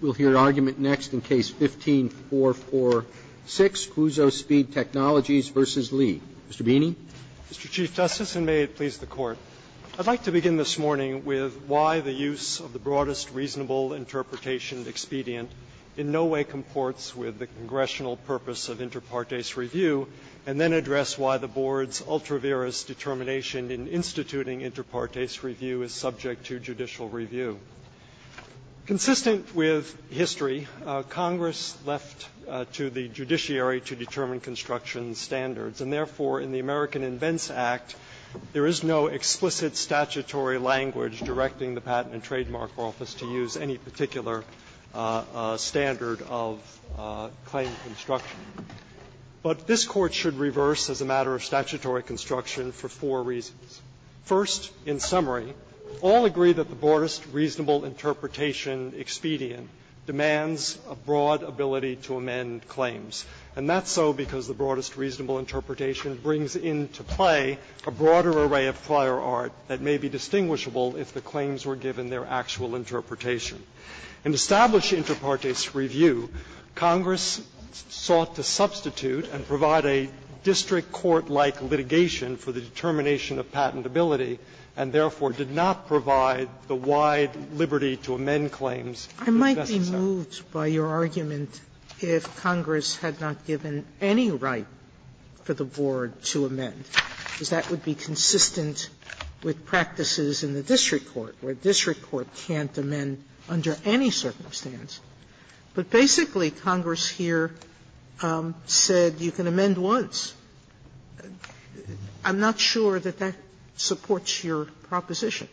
We'll hear argument next in Case 15-446, Cuozzo Speed Technologies v. Lee. Mr. Beeney. Mr. Chief Justice, and may it please the Court, I'd like to begin this morning with why the use of the broadest reasonable interpretation expedient in no way comports with the congressional purpose of inter partes review, and then address why the Board's ultra-virus determination in instituting inter partes review is subject to judicial review. Consistent with history, Congress left to the judiciary to determine construction standards, and therefore, in the American Invents Act, there is no explicit statutory language directing the Patent and Trademark Office to use any particular standard of claim construction. But this Court should reverse as a matter of statutory construction for four reasons. First, in summary, all agree that the broadest reasonable interpretation expedient demands a broad ability to amend claims. And that's so because the broadest reasonable interpretation brings into play a broader array of prior art that may be distinguishable if the claims were given their actual interpretation. In established inter partes review, Congress sought to substitute and provide a district court-like litigation for the determination of patentability, and therefore, did not provide the wide liberty to amend claims. Sotomayor, I might be moved by your argument if Congress had not given any right for the Board to amend, because that would be consistent with practices in the district court, where district court can't amend under any circumstance. But basically, Congress here said you can amend once. I'm not sure that that supports your proposition.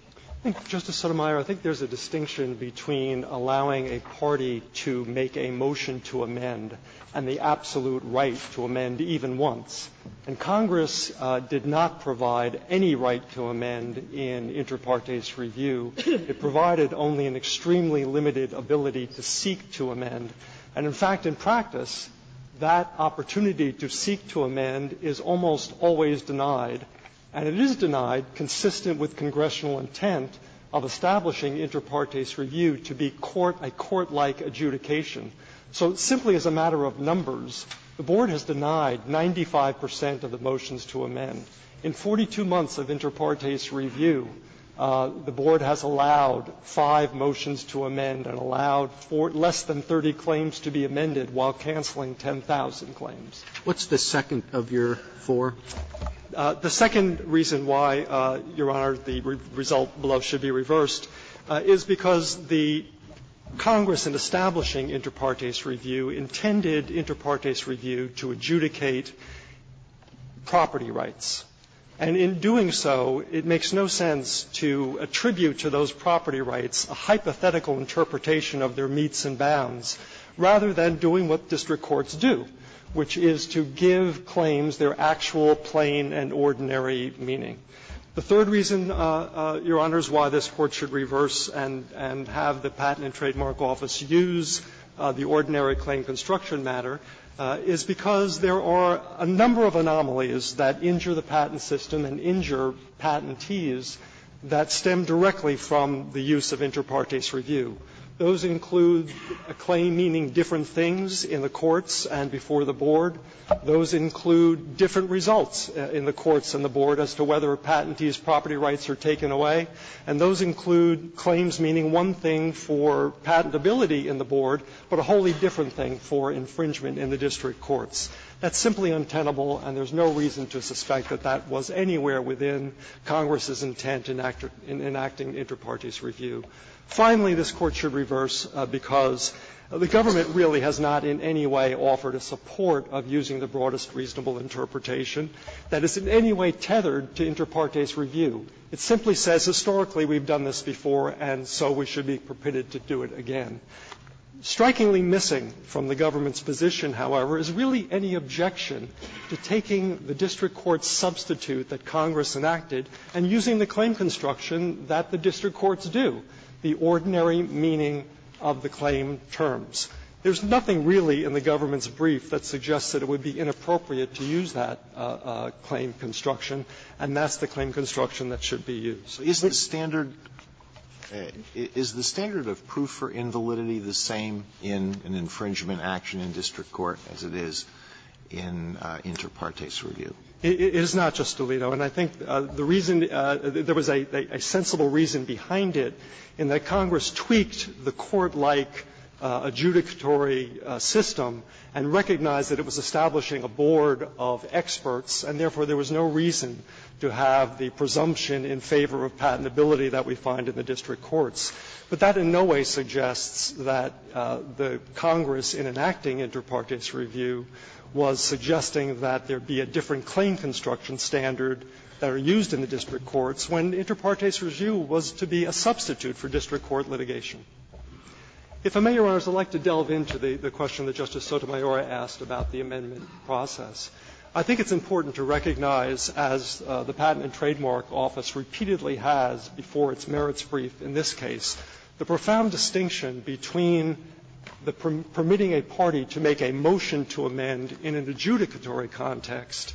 Katyala, I think there's a distinction between allowing a party to make a motion to amend and the absolute right to amend even once. And Congress did not provide any right to amend in inter partes review. It provided only an extremely limited ability to seek to amend. And in fact, in practice, that opportunity to seek to amend is almost always denied. And it is denied, consistent with congressional intent of establishing inter partes review to be a court-like adjudication. So simply as a matter of numbers, the Board has denied 95 percent of the motions to amend. In 42 months of inter partes review, the Board has allowed five motions to amend and allowed for less than 30 claims to be amended while canceling 10,000 claims. What's the second of your four? The second reason why, Your Honor, the result below should be reversed is because the Congress in establishing inter partes review intended inter partes review to adjudicate property rights. And in doing so, it makes no sense to attribute to those property rights a hypothetical interpretation of their meets and bounds, rather than doing what district courts do, which is to give claims their actual, plain and ordinary meaning. The third reason, Your Honor, why this Court should reverse and have the Patent and Trademark Office use the ordinary claim construction matter is because there are a number of anomalies that injure the patent system and injure patentees that stem directly from the use of inter partes review. Those include a claim meaning different things in the courts and before the Board. Those include different results in the courts and the Board as to whether a patentee's property rights are taken away. And those include claims meaning one thing for patentability in the Board, but a wholly different thing for infringement in the district courts. That's simply untenable, and there's no reason to suspect that that was anywhere within Congress's intent in enacting inter partes review. Finally, this Court should reverse because the government really has not in any way offered a support of using the broadest reasonable interpretation that is in any way tethered to inter partes review. It simply says, historically, we've done this before and so we should be permitted to do it again. Strikingly missing from the government's position, however, is really any objection to taking the district court's substitute that Congress enacted and using the claim construction that the district courts do, the ordinary meaning of the claim terms. There's nothing really in the government's brief that suggests that it would be inappropriate to use that claim construction, and that's the claim construction that should be used. Alito, so is the standard of proof for invalidity the same in an infringement action in district court as it is in inter partes review? It is not, Justice Alito, and I think the reason there was a sensible reason behind it in that Congress tweaked the court-like adjudicatory system and recognized that it was establishing a board of experts, and therefore there was no reason to have the presumption in favor of patentability that we find in the district courts. But that in no way suggests that the Congress, in enacting inter partes review, was suggesting that there be a different claim construction standard that are used in the district courts when inter partes review was to be a substitute for district court litigation. If I may, Your Honors, I would like to delve into the question that Justice Sotomayor asked about the amendment process. I think it's important to recognize, as the Patent and Trademark Office repeatedly has before its merits brief in this case, the profound distinction between the permitting a party to make a motion to amend in an adjudicatory context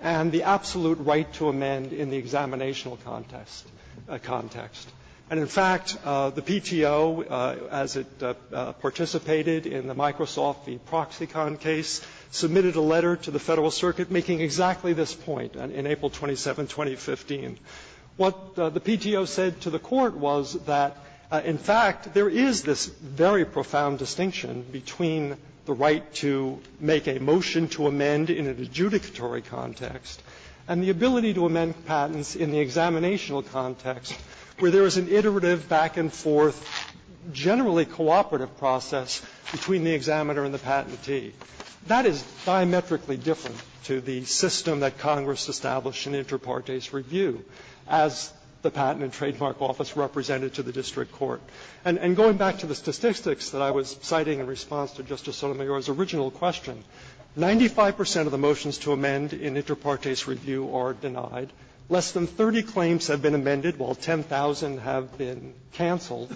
and the absolute right to amend in the examinational context. And in fact, the PTO, as it participated in the Microsoft v. Proxicon case, submitted a letter to the Federal Circuit making exactly this point in April 27, 2015. What the PTO said to the Court was that, in fact, there is this very profound distinction between the right to make a motion to amend in an adjudicatory context and the ability to amend patents in the examinational context, where there is an iterative back-and-forth, generally cooperative process between the examiner and the patentee. That is diametrically different to the system that Congress established in inter partes review, as the Patent and Trademark Office represented to the district court. And going back to the statistics that I was citing in response to Justice Sotomayor's original question, 95 percent of the motions to amend in inter partes review are denied. Less than 30 claims have been amended, while 10,000 have been canceled.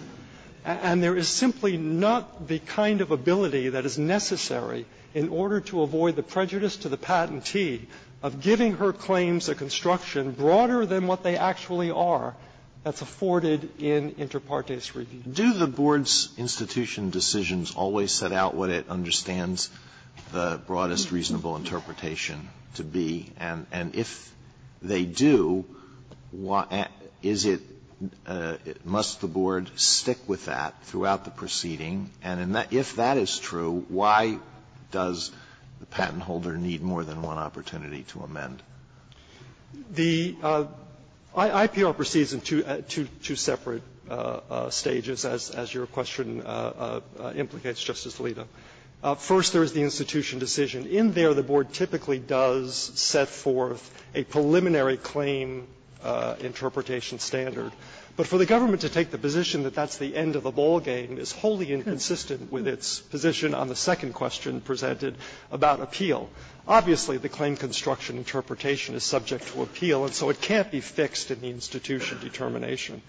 And there is simply not the kind of ability that is necessary in order to avoid the prejudice to the patentee of giving her claims a construction broader than what they actually are that's afforded in inter partes review. Alitoso, do the Board's institution decisions always set out what it understands the broadest reasonable interpretation to be? And if they do, is it – must the Board stick with that throughout the proceeding? And if that is true, why does the patent holder need more than one opportunity to amend? The IPR proceeds in two separate stages, as your question implicates, Justice Alito. First, there is the institution decision. In there, the Board typically does set forth a preliminary claim interpretation standard. But for the government to take the position that that's the end of the ballgame is wholly inconsistent with its position on the second question presented about appeal. Obviously, the claim construction interpretation is subject to appeal, and so it can't be fixed in the institution determination.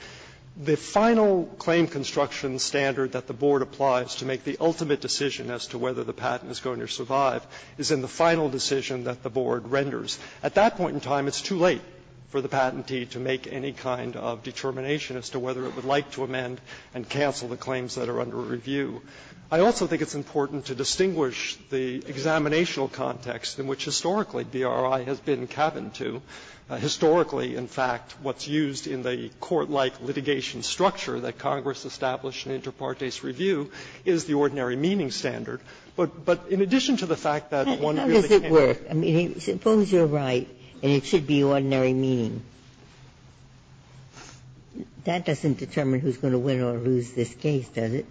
The final claim construction standard that the Board applies to make the ultimate decision as to whether the patent is going to survive is in the final decision that the Board renders. At that point in time, it's too late for the patentee to make any kind of determination as to whether it would like to amend and cancel the claims that are under review. I also think it's important to distinguish the examinational context in which historically BRI has been cabined to. Historically, in fact, what's used in the court-like litigation structure that Congress established in Inter Partes Review is the ordinary meaning standard. But in addition to the fact that one really can't do it. Ginsburg-Miller, I mean, suppose you're right and it should be ordinary meaning. That doesn't determine who's going to win or lose this case, does it?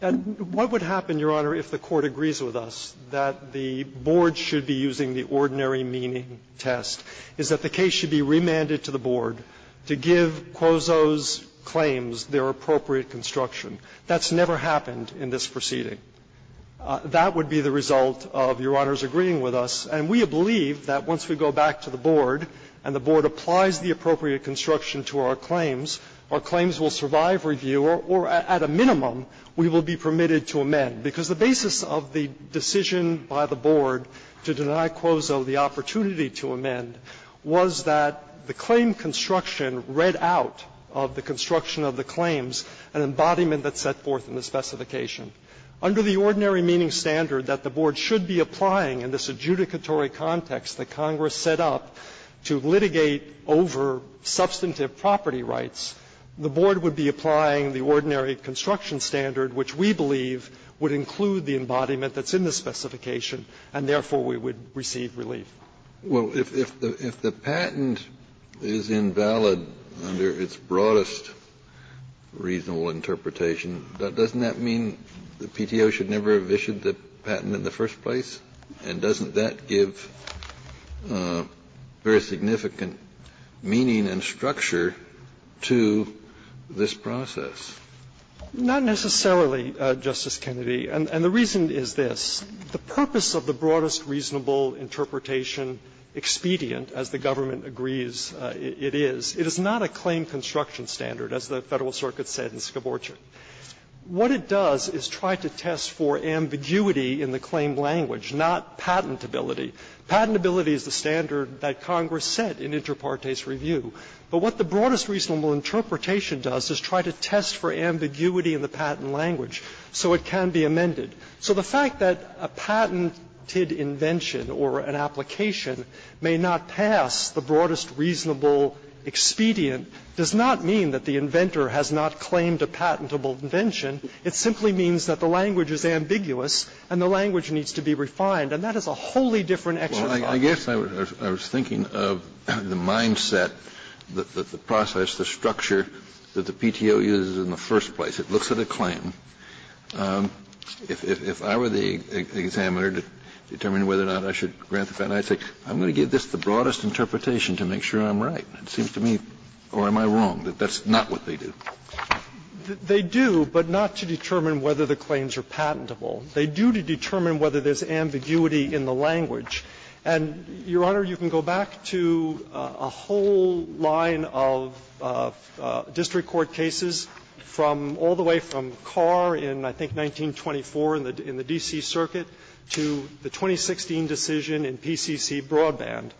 What would happen, Your Honor, if the Court agrees with us that the Board should be using the ordinary meaning test is that the case should be remanded to the Board to give Quozo's claims their appropriate construction? That's never happened in this proceeding. That would be the result of Your Honor's agreeing with us. And we believe that once we go back to the Board and the Board applies the appropriate construction to our claims, our claims will survive review or at a minimum we will be permitted to amend, because the basis of the decision by the Board to deny Quozo the opportunity to amend was that the claim construction read out of the construction of the claims an embodiment that's set forth in the specification. Under the ordinary meaning standard that the Board should be applying in this adjudicatory context that Congress set up to litigate over substantive property rights, the Board would be applying the ordinary construction standard, which we believe would include the embodiment that's in the specification, and therefore we would receive relief. Kennedy, if the patent is invalid under its broadest reasonable interpretation, doesn't that mean the PTO should never have issued the patent in the first place? And doesn't that give very significant meaning and structure to this process? Not necessarily, Justice Kennedy. And the reason is this. The purpose of the broadest reasonable interpretation, expedient, as the government agrees it is, it is not a claim construction standard, as the Federal Circuit said in Skaborchik. What it does is try to test for ambiguity in the claim language, not patentability. Patentability is the standard that Congress set in Inter Partes Review. But what the broadest reasonable interpretation does is try to test for ambiguity in the patent language. So it can be amended. So the fact that a patented invention or an application may not pass the broadest reasonable expedient does not mean that the inventor has not claimed a patentable invention. It simply means that the language is ambiguous and the language needs to be refined. And that is a wholly different exercise. Kennedy, I guess I was thinking of the mindset, the process, the structure that the PTO uses in the first place. It looks at a claim. If I were the examiner to determine whether or not I should grant the patent, I would say I'm going to give this the broadest interpretation to make sure I'm right. It seems to me, or am I wrong, that that's not what they do? They do, but not to determine whether the claims are patentable. They do to determine whether there's ambiguity in the language. And, Your Honor, you can go back to a whole line of district court cases from all the way from Carr in, I think, 1924 in the D.C. Circuit to the 2016 decision in PCC Broadband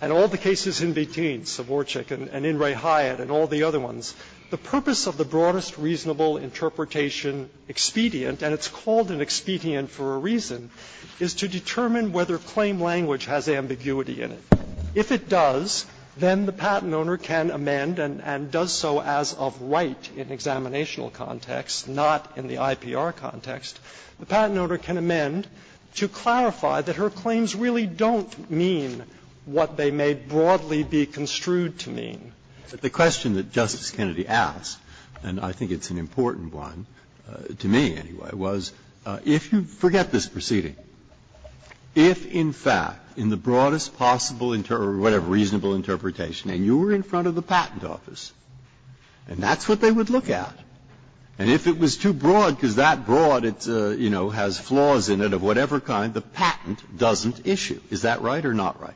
and all the cases in between, Savorczyk and In re Hyatt and all the other ones. The purpose of the broadest reasonable interpretation expedient, and it's called an expedient for a reason, is to determine whether claim language has ambiguity in it. If it does, then the patent owner can amend and does so as of right in examinational context, not in the IPR context. The patent owner can amend to clarify that her claims really don't mean what they may broadly be construed to mean. Breyer. But the question that Justice Kennedy asked, and I think it's an important one, to me anyway, was if you forget this proceeding, if in fact in the broadest possible or whatever reasonable interpretation, and you were in front of the patent office, and that's what they would look at, and if it was too broad, because that broad, it's, you know, has flaws in it of whatever kind, the patent doesn't issue, is that right or not right?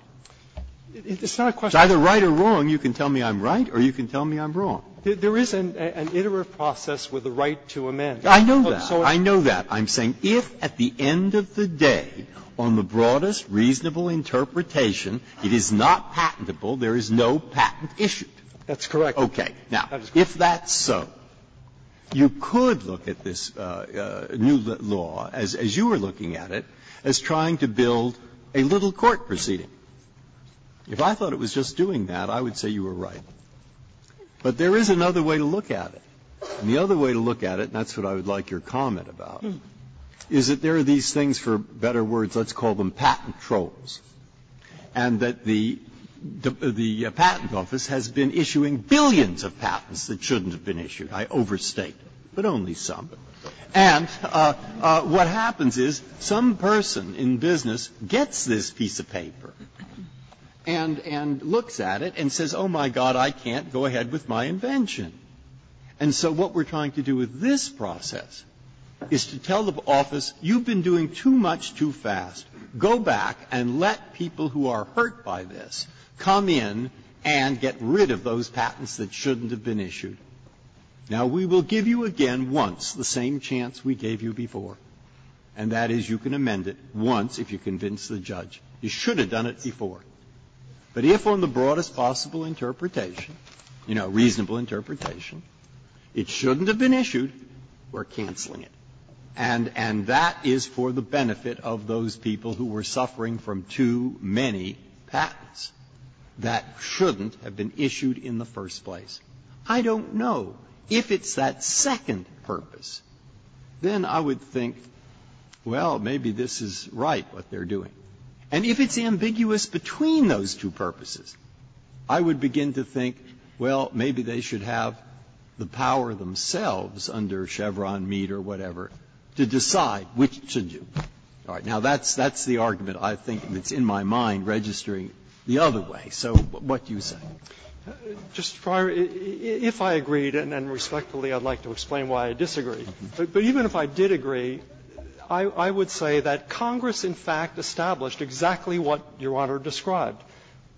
If it's either right or wrong, you can tell me I'm right or you can tell me I'm wrong. There is an iterative process with the right to amend. I know that. I know that. I'm saying if at the end of the day, on the broadest reasonable interpretation, it is not patentable, there is no patent issued. That's correct. Breyer. Now, if that's so, you could look at this new law, as you were looking at it, as trying to build a little court proceeding. If I thought it was just doing that, I would say you were right. But there is another way to look at it. And the other way to look at it, and that's what I would like your comment about, is that there are these things, for better words, let's call them patent trolls, and that the patent office has been issuing billions of patents that shouldn't have been issued. I overstate, but only some. And what happens is some person in business gets this piece of paper and looks at it and says, oh, my God, I can't go ahead with my invention. And so what we're trying to do with this process is to tell the office, you've been doing too much too fast, go back and let people who are hurt by this come in and get rid of those patents that shouldn't have been issued. Now, we will give you again once the same chance we gave you before, and that is you can amend it once if you convince the judge you should have done it before. But if, on the broadest possible interpretation, you know, reasonable interpretation, it shouldn't have been issued, we're canceling it. And that is for the benefit of those people who were suffering from too many patents that shouldn't have been issued in the first place. I don't know. If it's that second purpose, then I would think, well, maybe this is right, what they're doing. And if it's ambiguous between those two purposes, I would begin to think, well, maybe they should have the power themselves under Chevron, Mead, or whatever, to decide which to do. All right. Now, that's the argument I think that's in my mind registering the other way. So what do you say? Fisherman, just prior, if I agreed, and respectfully I'd like to explain why I disagreed. But even if I did agree, I would say that Congress in fact established exactly what Your Honor described.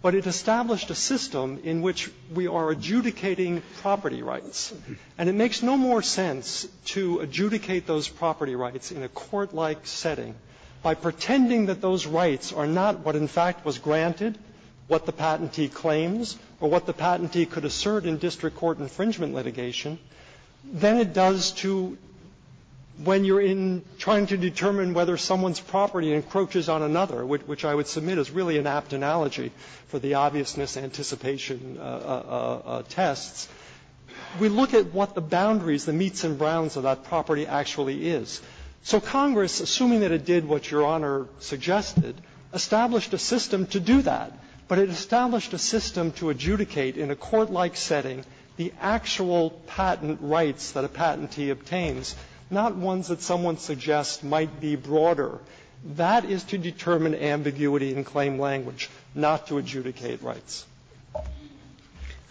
But it established a system in which we are adjudicating property rights. And it makes no more sense to adjudicate those property rights in a court-like setting by pretending that those rights are not what in fact was granted, what the patentee claims, or what the patentee could assert in district court infringement litigation, than it does to when you're in trying to determine whether someone's a patentee or not. Now, that's a different analogy for the obvious misanticipation tests. We look at what the boundaries, the meats and browns of that property actually is. So Congress, assuming that it did what Your Honor suggested, established a system to do that. But it established a system to adjudicate in a court-like setting the actual patent rights that a patentee obtains, not ones that someone suggests might be broader. That is to determine ambiguity in claim language, not to adjudicate rights.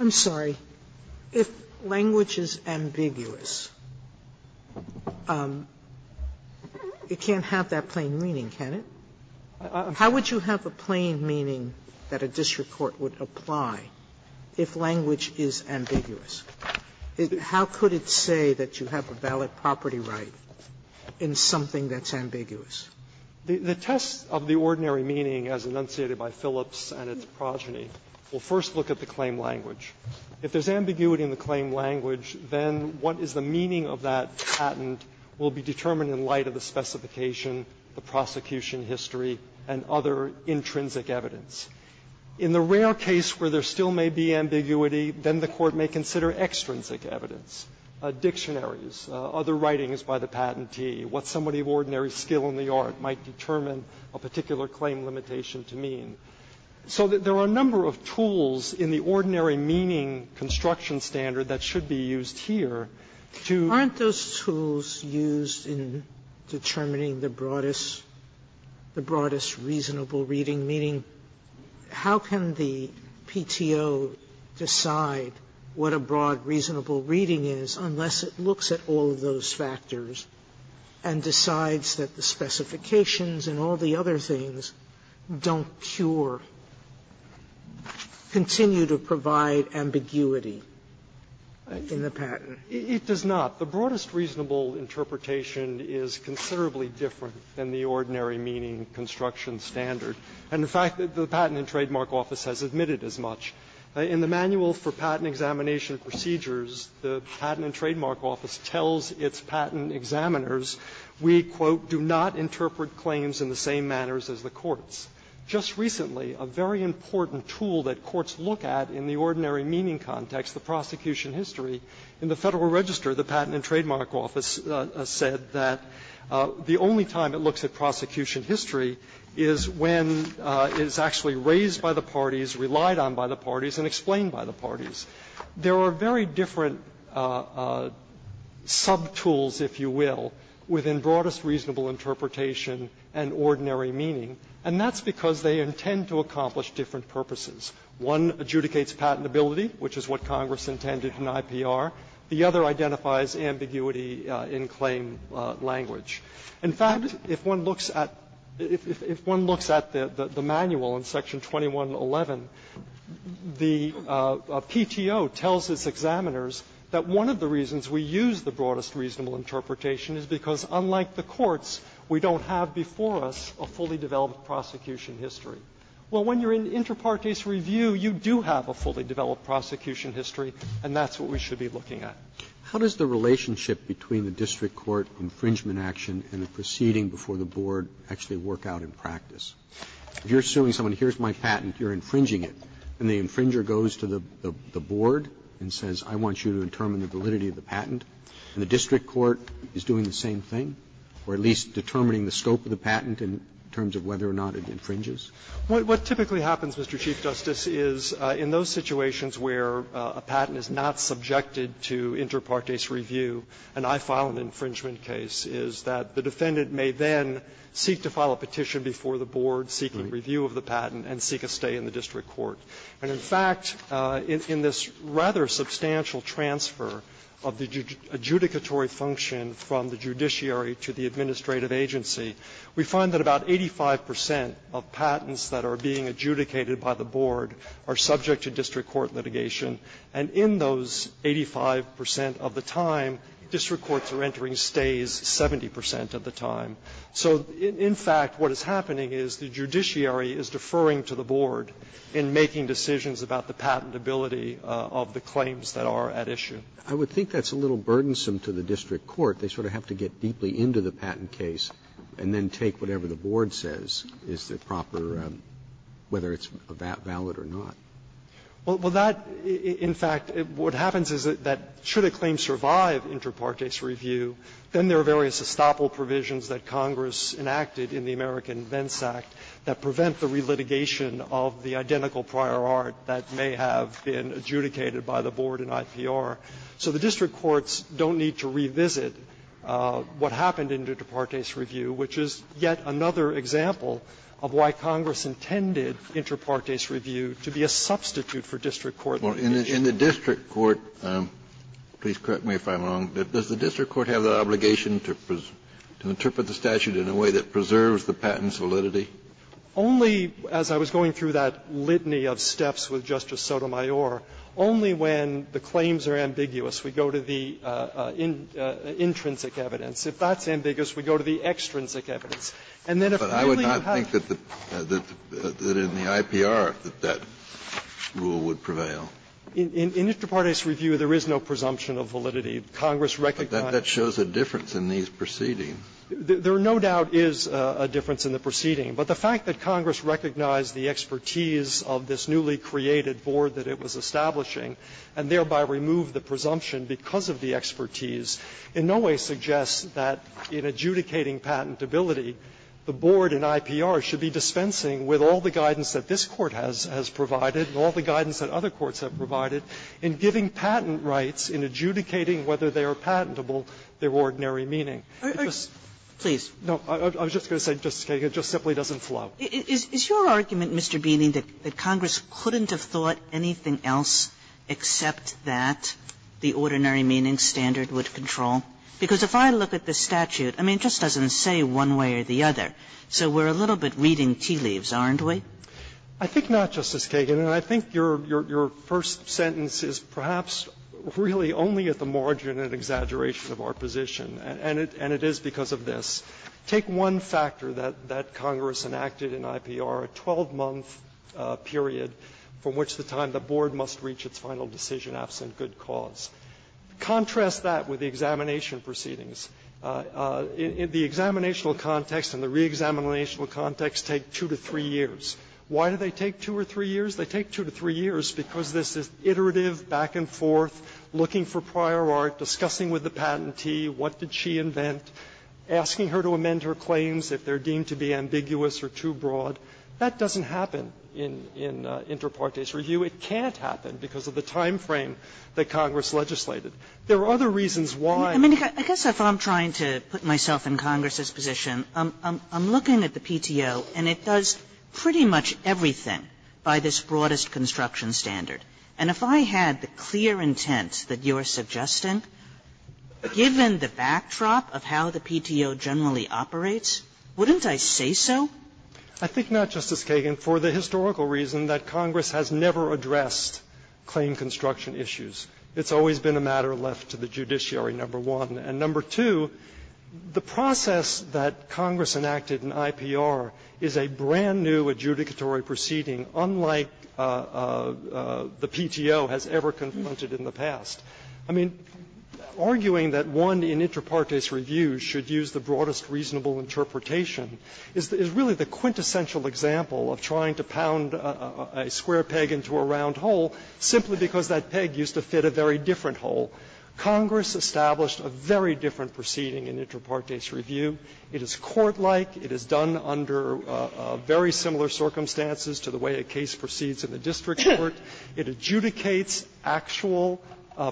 Sotomayor, if language is ambiguous, it can't have that plain meaning, can it? How would you have a plain meaning that a district court would apply if language is ambiguous? How could it say that you have a valid property right in something that's ambiguous? The test of the ordinary meaning, as enunciated by Phillips and its progeny, will first look at the claim language. If there's ambiguity in the claim language, then what is the meaning of that patent will be determined in light of the specification, the prosecution history, and other intrinsic evidence. In the rare case where there still may be ambiguity, then the court may consider extrinsic evidence, dictionaries, other writings by the patentee, what somebody of ordinary skill in the art might determine a particular claim limitation to mean. So there are a number of tools in the ordinary meaning construction standard that should be used here to do that. Sotomayor, aren't those tools used in determining the broadest, the broadest reasonable reading, meaning how can the PTO decide what a broad reasonable reading is unless it looks at all of those factors and decides that the specifications and all the other things don't cure, continue to provide ambiguity in the patent? It does not. The broadest reasonable interpretation is considerably different than the ordinary meaning construction standard. And in fact, the Patent and Trademark Office has admitted as much. In the Manual for Patent Examination Procedures, the Patent and Trademark Office tells its patent examiners, we, quote, do not interpret claims in the same manners as the courts. Just recently, a very important tool that courts look at in the ordinary meaning context, the prosecution history, in the Federal Register, the Patent and Trademark Office said that the only time it looks at prosecution history is when it is actually raised by the parties, relied on by the parties, and explained by the parties. There are very different sub-tools, if you will, within broadest reasonable interpretation and ordinary meaning, and that's because they intend to accomplish different purposes. One adjudicates patentability, which is what Congress intended in IPR. The other identifies ambiguity in claim language. In fact, if one looks at the Manual in Section 2111, the PTO tells its examiners that one of the reasons we use the broadest reasonable interpretation is because, unlike the courts, we don't have before us a fully developed prosecution history. Well, when you're in inter partes review, you do have a fully developed prosecution history, and that's what we should be looking at. Roberts, how does the relationship between the district court infringement action and the proceeding before the board actually work out in practice? If you're suing someone, here's my patent, you're infringing it, and the infringer goes to the board and says, I want you to determine the validity of the patent, and the district court is doing the same thing, or at least determining the scope of the patent in terms of whether or not it infringes? What typically happens, Mr. Chief Justice, is in those situations where a patent is not subjected to inter partes review, and I file an infringement case, is that the defendant may then seek to file a petition before the board seeking review of the patent and seek a stay in the district court. And, in fact, in this rather substantial transfer of the adjudicatory function from the judiciary to the administrative agency, we find that about 85 percent of patents that are being adjudicated by the board are subject to district court litigation. And in those 85 percent of the time, district courts are entering stays 70 percent of the time. So, in fact, what is happening is the judiciary is deferring to the board in making decisions about the patentability of the claims that are at issue. Roberts. I would think that's a little burdensome to the district court. They sort of have to get deeply into the patent case and then take whatever the board says is the proper, whether it's valid or not. Well, that, in fact, what happens is that should a claim survive inter partes review, then there are various estoppel provisions that Congress enacted in the American Vence Act that prevent the relitigation of the identical prior art that may have been adjudicated by the board in IPR. So the district courts don't need to revisit what happened in inter partes review, which is yet another example of why Congress intended inter partes review to be a substitute for district court litigation. In the district court, please correct me if I'm wrong, does the district court have the obligation to interpret the statute in a way that preserves the patent's validity? Only, as I was going through that litany of steps with Justice Sotomayor, only when the claims are ambiguous, we go to the intrinsic evidence. If that's ambiguous, we go to the extrinsic evidence. And then if really you have to. Kennedy, I would not think that in the IPR that that rule would prevail. In inter partes review, there is no presumption of validity. Congress recognized. But that shows a difference in these proceedings. There no doubt is a difference in the proceeding. But the fact that Congress recognized the expertise of this newly created board that it was establishing and thereby removed the presumption because of the expertise in no way suggests that in adjudicating patentability, the board in IPR should be dispensing with all the guidance that this Court has provided and all the guidance that other courts have provided in giving patent rights, in adjudicating whether they are patentable, their ordinary meaning. Kagan, it just simply doesn't flow. Kagan, is your argument, Mr. Beeney, that Congress couldn't have thought anything else except that the ordinary meaning standard would control? Because if I look at the statute, I mean, it just doesn't say one way or the other. So we're a little bit reading tea leaves, aren't we? Beeney, I think not, Justice Kagan. And I think your first sentence is perhaps really only at the margin of exaggeration of our position. And it is because of this. Take one factor that Congress enacted in IPR, a 12-month period from which the time must reach its final decision absent good cause. Contrast that with the examination proceedings. The examinational context and the reexaminational context take two to three years. Why do they take two or three years? They take two to three years because this is iterative, back and forth, looking for prior art, discussing with the patentee what did she invent, asking her to amend her claims if they are deemed to be ambiguous or too broad. That doesn't happen in inter partes review. It can't happen because of the time frame that Congress legislated. There are other reasons why. Kagan. Kagan. I guess if I'm trying to put myself in Congress's position, I'm looking at the PTO and it does pretty much everything by this broadest construction standard. And if I had the clear intent that you're suggesting, given the backdrop of how the PTO generally operates, wouldn't I say so? I think not, Justice Kagan, for the historical reason that Congress has never addressed claim construction issues. It's always been a matter left to the judiciary, number one. And number two, the process that Congress enacted in IPR is a brand-new adjudicatory proceeding, unlike the PTO has ever confronted in the past. I mean, arguing that one in inter partes review should use the broadest reasonable interpretation is really the quintessential example of trying to pound a square peg into a round hole simply because that peg used to fit a very different hole. Congress established a very different proceeding in inter partes review. It is court-like. It is done under very similar circumstances to the way a case proceeds in the district court. It adjudicates actual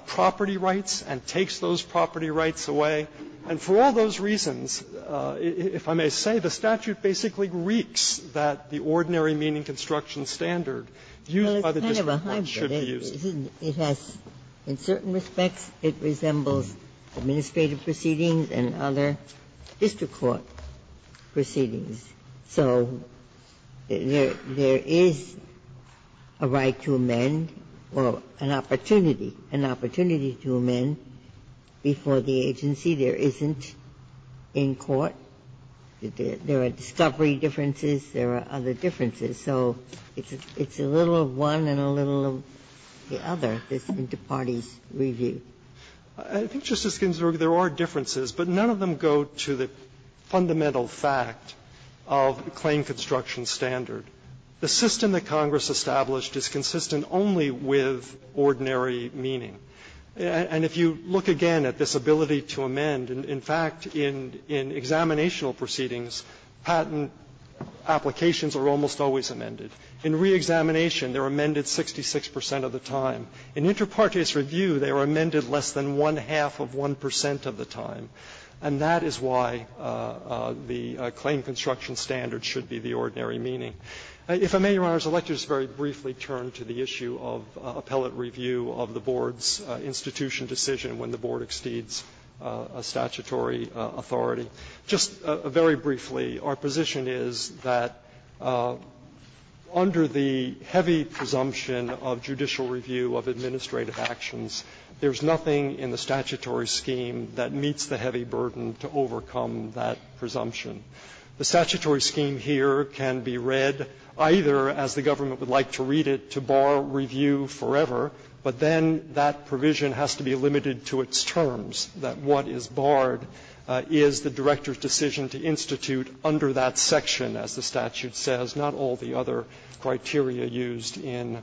property rights and takes those property rights away. And for all those reasons, if I may say, the statute basically reeks that the ordinary meaning construction standard used by the district court should be used. Ginsburg-Mills, Jr. Well, it's kind of a hybrid. It has, in certain respects, it resembles administrative proceedings and other district court proceedings. So there is a right to amend or an opportunity, an opportunity to amend before the agency, there isn't in court. There are discovery differences, there are other differences. So it's a little of one and a little of the other, this inter partes review. I think, Justice Ginsburg, there are differences, but none of them go to the fundamental fact of the claim construction standard. The system that Congress established is consistent only with ordinary meaning. And if you look again at this ability to amend, in fact, in examinational proceedings, patent applications are almost always amended. In reexamination, they are amended 66 percent of the time. In inter partes review, they are amended less than one-half of 1 percent of the time. And that is why the claim construction standard should be the ordinary meaning. If I may, Your Honors, I would like to just very briefly turn to the issue of appellate review of the Board's institution decision when the Board exceeds a statutory authority. Just very briefly, our position is that under the heavy presumption of judicial review of administrative actions, there is nothing in the statutory scheme that meets the heavy burden to overcome that presumption. The statutory scheme here can be read either, as the government would like to read it, to bar review forever, but then that provision has to be limited to its terms, that what is barred is the director's decision to institute under that section, as the statute says, not all the other criteria used in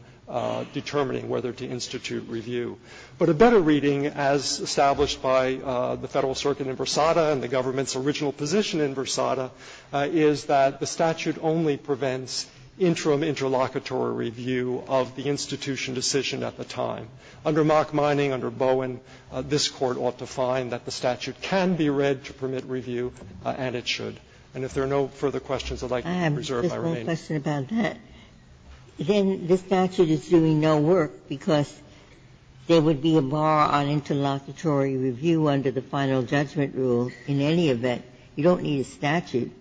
determining whether to institute review. But a better reading, as established by the Federal Circuit in Versada and the government's original position in Versada, is that the statute only prevents interim interlocutory review of the institution decision at the time. Under Mock Mining, under Bowen, this Court ought to find that the statute can be read to permit review, and it should. And if there are no further questions I would like to reserve, I remain. Ginsburg. I have just one question about that. Then the statute is doing no work because there would be a bar on interlocutory review under the Final Judgment Rule in any event. You don't need a statute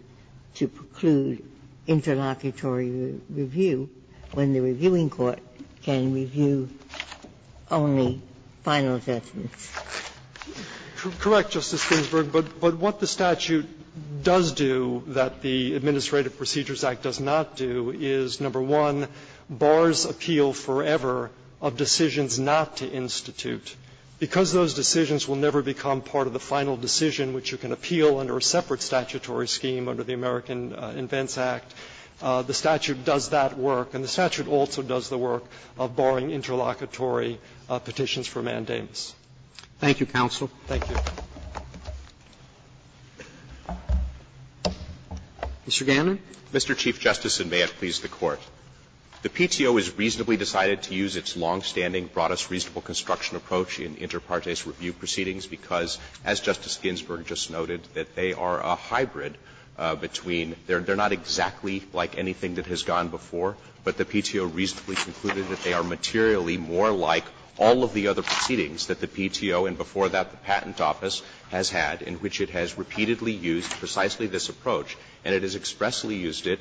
to preclude interlocutory review when the reviewing court can review only Final Judgments. Correct, Justice Ginsburg, but what the statute does do that the Administrative Procedures Act does not do is, number one, bars appeal forever of decisions not to institute. Because those decisions will never become part of the final decision which you can appeal under a separate statutory scheme under the American Invents Act, the statute does that work. And the statute also does the work of barring interlocutory petitions for mandamus. Roberts. Thank you, counsel. Thank you. Mr. Gannon. Mr. Chief Justice, and may it please the Court. The PTO has reasonably decided to use its longstanding broadest reasonable construction approach in inter partes review proceedings because, as Justice Ginsburg just noted, that they are a hybrid between they're not exactly like anything that has gone before, but the PTO reasonably concluded that they are materially more like all of the other proceedings that the PTO and before that the Patent Office has had, in which it has repeatedly used precisely this approach, and it has expressly used it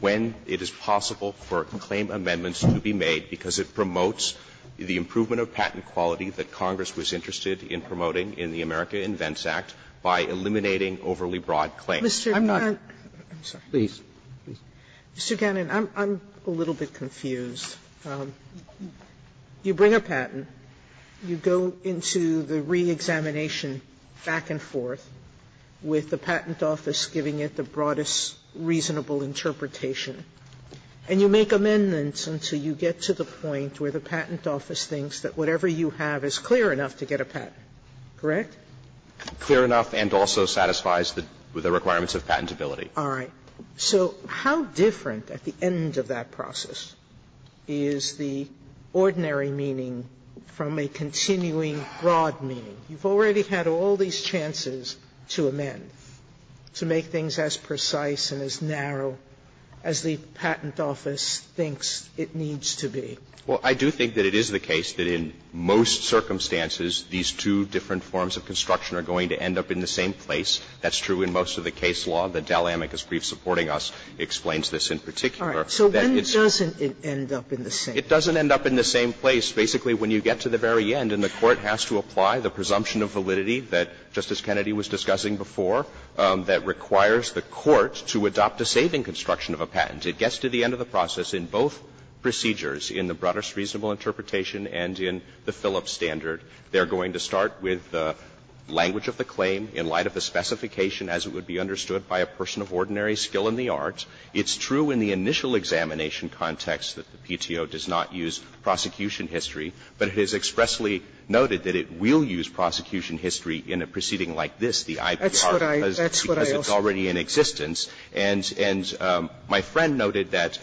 when it is possible for claim amendments to be made because it promotes the improvement of patent quality that Congress was interested in promoting in the America Invents Act by eliminating overly broad claims. Sotomayor, I'm sorry. Mr. Gannon, I'm a little bit confused. You bring a patent, you go into the reexamination back and forth with the Patent Office giving it the broadest reasonable interpretation, and you make amendments until you get to the point where the Patent Office thinks that whatever you have is clear enough to get a patent, correct? Gannon, clear enough and also satisfies the requirements of patentability. All right. So how different at the end of that process is the ordinary meaning from a continuing broad meaning? You've already had all these chances to amend, to make things as precise and as narrow as the Patent Office thinks it needs to be. Well, I do think that it is the case that in most circumstances, these two different forms of construction are going to end up in the same place. That's true in most of the case law. The Dall'Amicus brief supporting us explains this in particular. All right. So when doesn't it end up in the same place? It doesn't end up in the same place. Basically, when you get to the very end and the Court has to apply the presumption of validity that Justice Kennedy was discussing before that requires the Court to adopt a saving construction of a patent, it gets to the end of the process in both procedures, in the broadest reasonable interpretation and in the Phillips standard. They're going to start with the language of the claim in light of the specification as it would be understood by a person of ordinary skill in the art. It's true in the initial examination context that the PTO does not use prosecution history, but it is expressly noted that it will use prosecution history in a proceeding like this, the IPR, because it's already in existence. And my friend noted that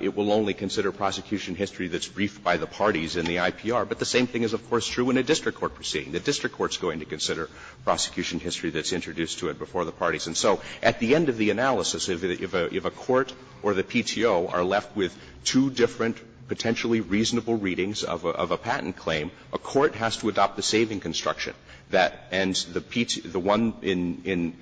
it will only consider prosecution history that's briefed by the parties in the IPR. But the same thing is, of course, true in a district court proceeding. The district court is going to consider prosecution history that's introduced to it before the parties. And so at the end of the analysis, if a court or the PTO are left with two different potentially reasonable readings of a patent claim, a court has to adopt the saving construction. And the one in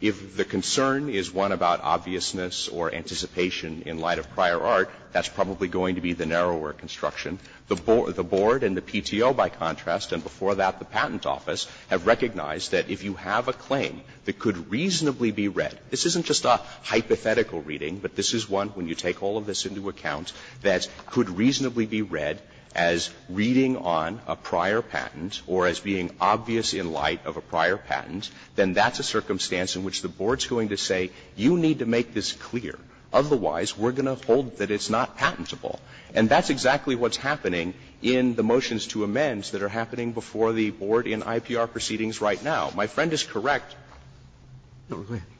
the concern is one about obviousness or anticipation in light of prior art, that's probably going to be the narrower construction. The board and the PTO, by contrast, and before that the Patent Office, have recognized that if you have a claim that could reasonably be read, this isn't just a hypothetical reading, but this is one, when you take all of this into account, that could reasonably be read as reading on a prior patent or as being obvious in light of a prior patent, then that's a circumstance in which the board's going to say, you need to make this clear. Otherwise, we're going to hold that it's not patentable. And that's exactly what's happening in the motions to amend that are happening before the board in IPR proceedings right now. My friend is correct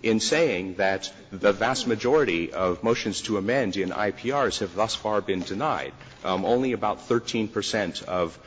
in saying that the vast majority of motions to amend in IPRs have thus far been denied. Only about 13 percent of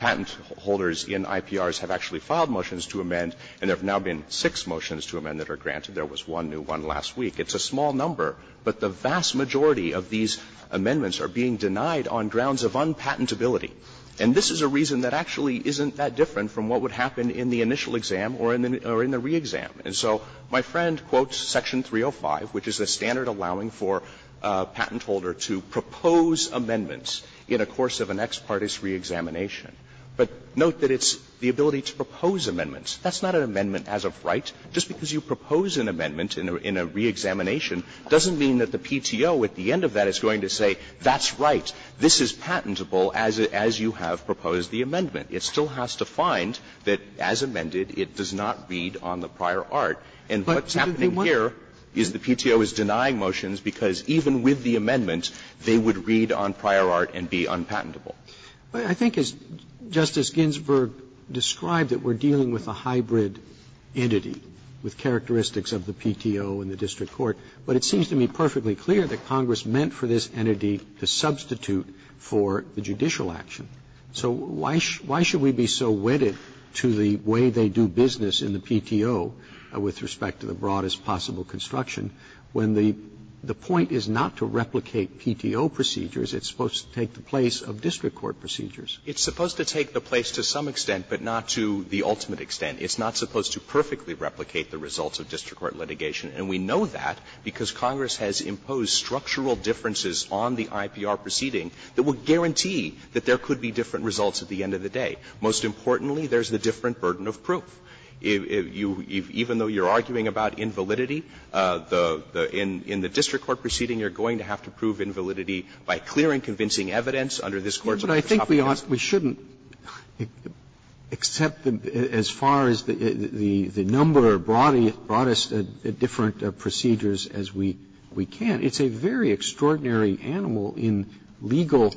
patent holders in IPRs have actually filed motions to amend, and there have now been six motions to amend that are granted. There was one new one last week. It's a small number, but the vast majority of these amendments are being denied on grounds of unpatentability. And this is a reason that actually isn't that different from what would happen in the initial exam or in the re-exam. And so my friend quotes Section 305, which is the standard allowing for a patent to propose amendments in a course of an ex partis re-examination. But note that it's the ability to propose amendments. That's not an amendment as of right. Just because you propose an amendment in a re-examination doesn't mean that the PTO at the end of that is going to say, that's right, this is patentable as you have proposed the amendment. It still has to find that, as amended, it does not read on the prior art. And what's happening here is the PTO is denying motions because even with the amendment, they would read on prior art and be unpatentable. Roberts. I think, as Justice Ginsburg described, that we're dealing with a hybrid entity with characteristics of the PTO and the district court. But it seems to me perfectly clear that Congress meant for this entity to substitute for the judicial action. So why should we be so wedded to the way they do business in the PTO with respect to the PTO procedures? It's supposed to take the place of district court procedures. It's supposed to take the place to some extent, but not to the ultimate extent. It's not supposed to perfectly replicate the results of district court litigation. And we know that because Congress has imposed structural differences on the IPR proceeding that would guarantee that there could be different results at the end of the day. Most importantly, there's the different burden of proof. If you even though you're arguing about invalidity, in the district court proceeding, you're going to have to prove invalidity by clearing convincing evidence under this Court's topic. Roberts, we shouldn't accept as far as the number or broadest different procedures as we can. It's a very extraordinary animal in legal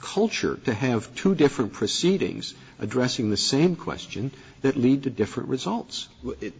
culture to have two different proceedings addressing the same question that lead to different results.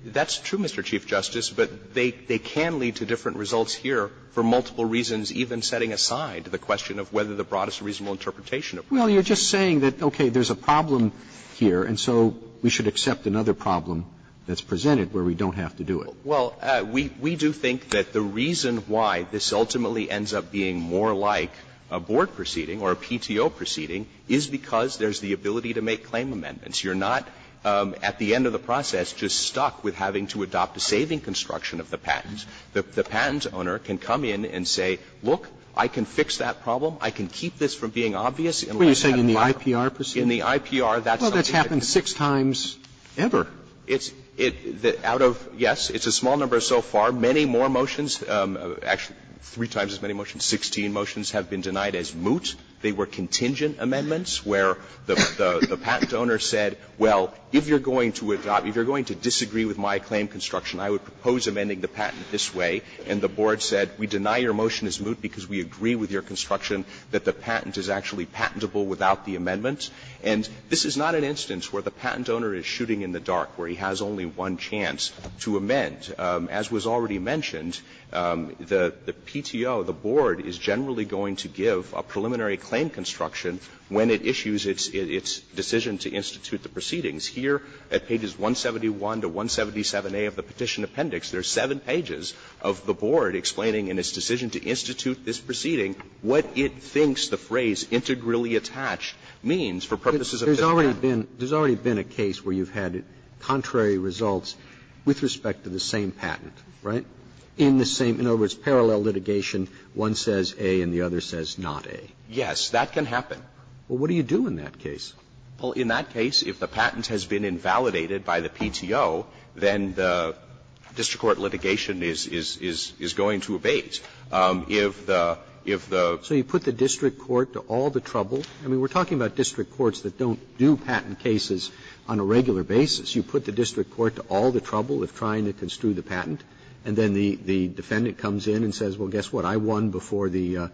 That's true, Mr. Chief Justice, but they can lead to different results here for multiple reasons, even setting aside the question of whether the broadest reasonable interpretation applies. Well, you're just saying that, okay, there's a problem here, and so we should accept another problem that's presented where we don't have to do it. Well, we do think that the reason why this ultimately ends up being more like a board proceeding or a PTO proceeding is because there's the ability to make claim amendments. You're not, at the end of the process, just stuck with having to adopt a saving construction of the patent. The patent owner can come in and say, look, I can fix that problem. I can keep this from being obvious. And let's have a minor procedure. What are you saying, in the IPR proceedings? In the IPR, that's something that can be fixed. Well, that's happened six times ever. It's the – out of, yes, it's a small number so far. Many more motions, actually three times as many motions, 16 motions have been denied as moot. They were contingent amendments where the patent owner said, well, if you're going to adopt, if you're going to disagree with my claim construction, I would propose amending the patent this way. And the board said, we deny your motion as moot because we agree with your construction that the patent is actually patentable without the amendment. And this is not an instance where the patent owner is shooting in the dark, where he has only one chance to amend. As was already mentioned, the PTO, the board, is generally going to give a preliminary claim construction when it issues its decision to institute the proceedings. Here, at pages 171 to 177a of the Petition Appendix, there's seven pages of the board explaining in its decision to institute this proceeding what it thinks the phrase integrally attached means for purposes of this patent. Roberts, there's already been a case where you've had contrary results with respect to the same patent, right? In the same, in other words, parallel litigation, one says A and the other says not A. Yes, that can happen. Well, what do you do in that case? Well, in that case, if the patent has been invalidated by the PTO, then the district court litigation is going to abate. If the, if the. Roberts, so you put the district court to all the trouble? I mean, we're talking about district courts that don't do patent cases on a regular basis. You put the district court to all the trouble of trying to construe the patent, and then the defendant comes in and says, well, guess what, I won before the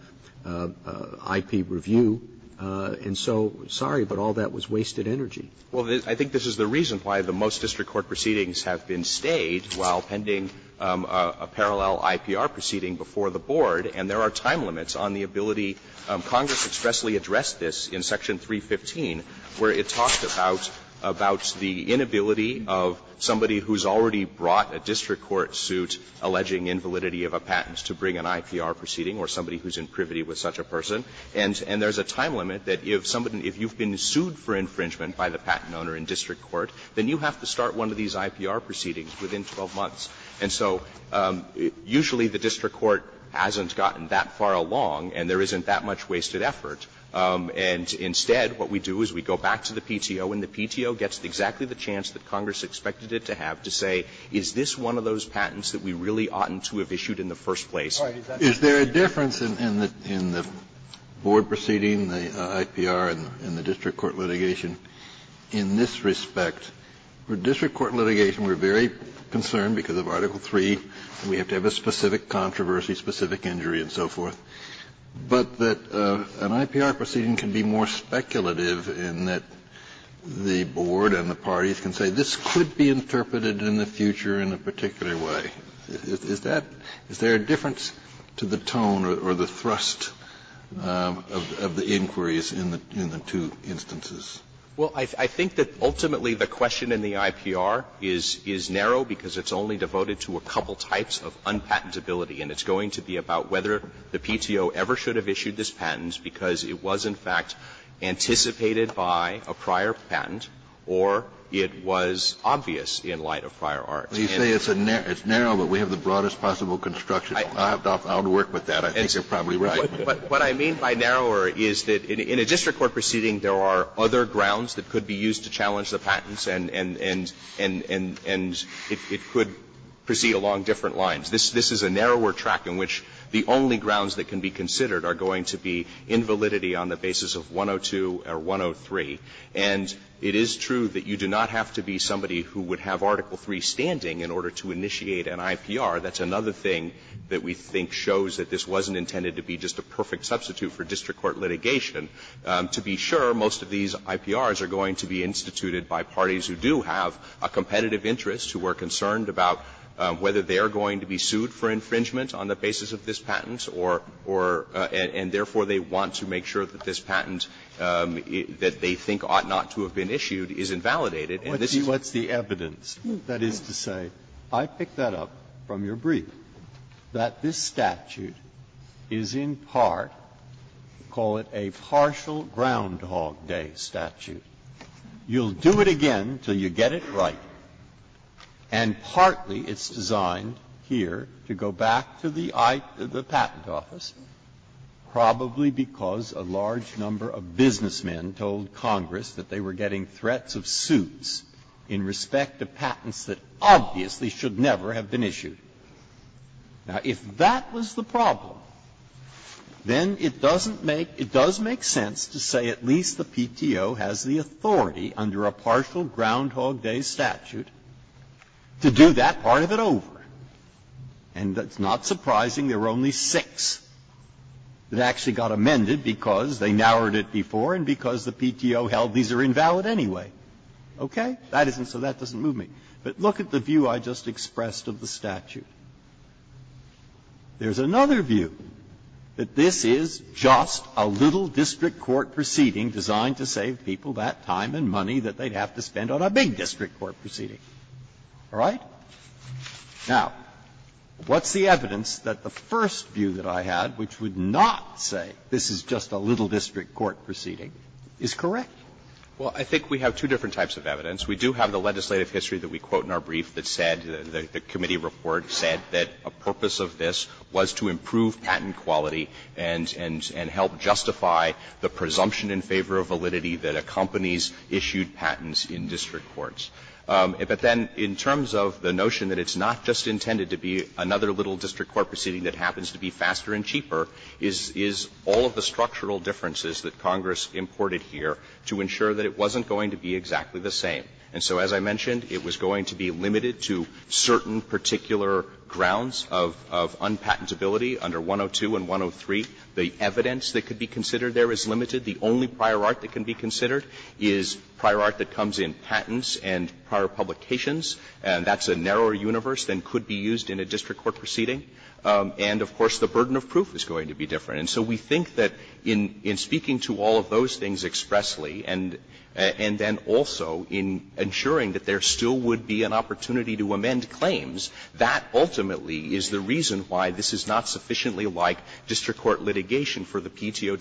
IP review, and so, sorry, but all that was wasted energy. Well, I think this is the reason why the most district court proceedings have been stayed while pending a parallel IPR proceeding before the board, and there are time limits on the ability. Congress expressly addressed this in Section 315, where it talked about, about the inability of somebody who's already brought a district court suit alleging invalidity of a patent to bring an IPR proceeding or somebody who's in privity with such a person. And there's a time limit that if somebody, if you've been sued for infringement by the patent owner in district court, then you have to start one of these IPR proceedings within 12 months. And so usually the district court hasn't gotten that far along, and there isn't that much wasted effort. And instead, what we do is we go back to the PTO, and the PTO gets exactly the chance that Congress expected it to have to say, is this one of those patents that we really oughtn't to have issued in the first place? Kennedy, is there a difference in the board proceeding, the IPR, and the district court litigation in this respect? For district court litigation, we're very concerned because of Article 3, and we have to have a specific controversy, specific injury, and so forth, but that an IPR proceeding can be more speculative in that the board and the parties can say, this could be interpreted in the future in a particular way. Is that – is there a difference to the tone or the thrust of the inquiries in the two instances? Well, I think that ultimately the question in the IPR is narrow because it's only devoted to a couple types of unpatentability, and it's going to be about whether the PTO ever should have issued this patent because it was, in fact, anticipated by a prior patent or it was obvious in light of prior art. Well, you say it's narrow, but we have the broadest possible construction. I'll work with that. I think you're probably right. But what I mean by narrower is that in a district court proceeding, there are other grounds that could be used to challenge the patents, and it could proceed along different lines. This is a narrower track in which the only grounds that can be considered are going to be invalidity on the basis of 102 or 103, and it is true that you do not have to be somebody who would have Article III standing in order to initiate an IPR. That's another thing that we think shows that this wasn't intended to be just a perfect substitute for district court litigation. To be sure, most of these IPRs are going to be instituted by parties who do have a competitive interest, who are concerned about whether they are going to be sued for infringement on the basis of this patent or – and therefore they want to make sure that this patent that they think ought not to have been issued is invalidated. Breyer, what's the evidence that is to say, I picked that up from your brief, that this statute is in part, call it a partial Groundhog Day statute. You'll do it again until you get it right. And partly it's designed here to go back to the patent office, probably because a large number of businessmen told Congress that they were getting threats of suits in respect to patents that obviously should never have been issued. Now, if that was the problem, then it doesn't make – it does make sense to say at least the PTO has the authority under a partial Groundhog Day statute to do that part of it over. And it's not surprising there were only six that actually got amended because they narrowed it before and because the PTO held these are invalid anyway. Okay? That isn't – so that doesn't move me. But look at the view I just expressed of the statute. There's another view, that this is just a little district court proceeding designed to save people that time and money that they'd have to spend on a big district court proceeding. All right? Now, what's the evidence that the first view that I had, which would not say this is just a little district court proceeding, is correct? Well, I think we have two different types of evidence. We do have the legislative history that we quote in our brief that said, the committee report said, that a purpose of this was to improve patent quality and help justify the presumption in favor of validity that accompanies issued patents in district courts. But then in terms of the notion that it's not just intended to be another little district court proceeding that happens to be faster and cheaper, is all of the structural differences that Congress imported here to ensure that it wasn't going to be exactly the same. And so as I mentioned, it was going to be limited to certain particular grounds of unpatentability under 102 and 103. The evidence that could be considered there is limited. The only prior art that can be considered is prior art that comes in patents and prior publications. And that's a narrower universe than could be used in a district court proceeding. And of course, the burden of proof is going to be different. And so we think that in speaking to all of those things expressly, and then also in ensuring that there still would be an opportunity to amend claims, that ultimately is the reason why this is not sufficiently like district court litigation for the PTO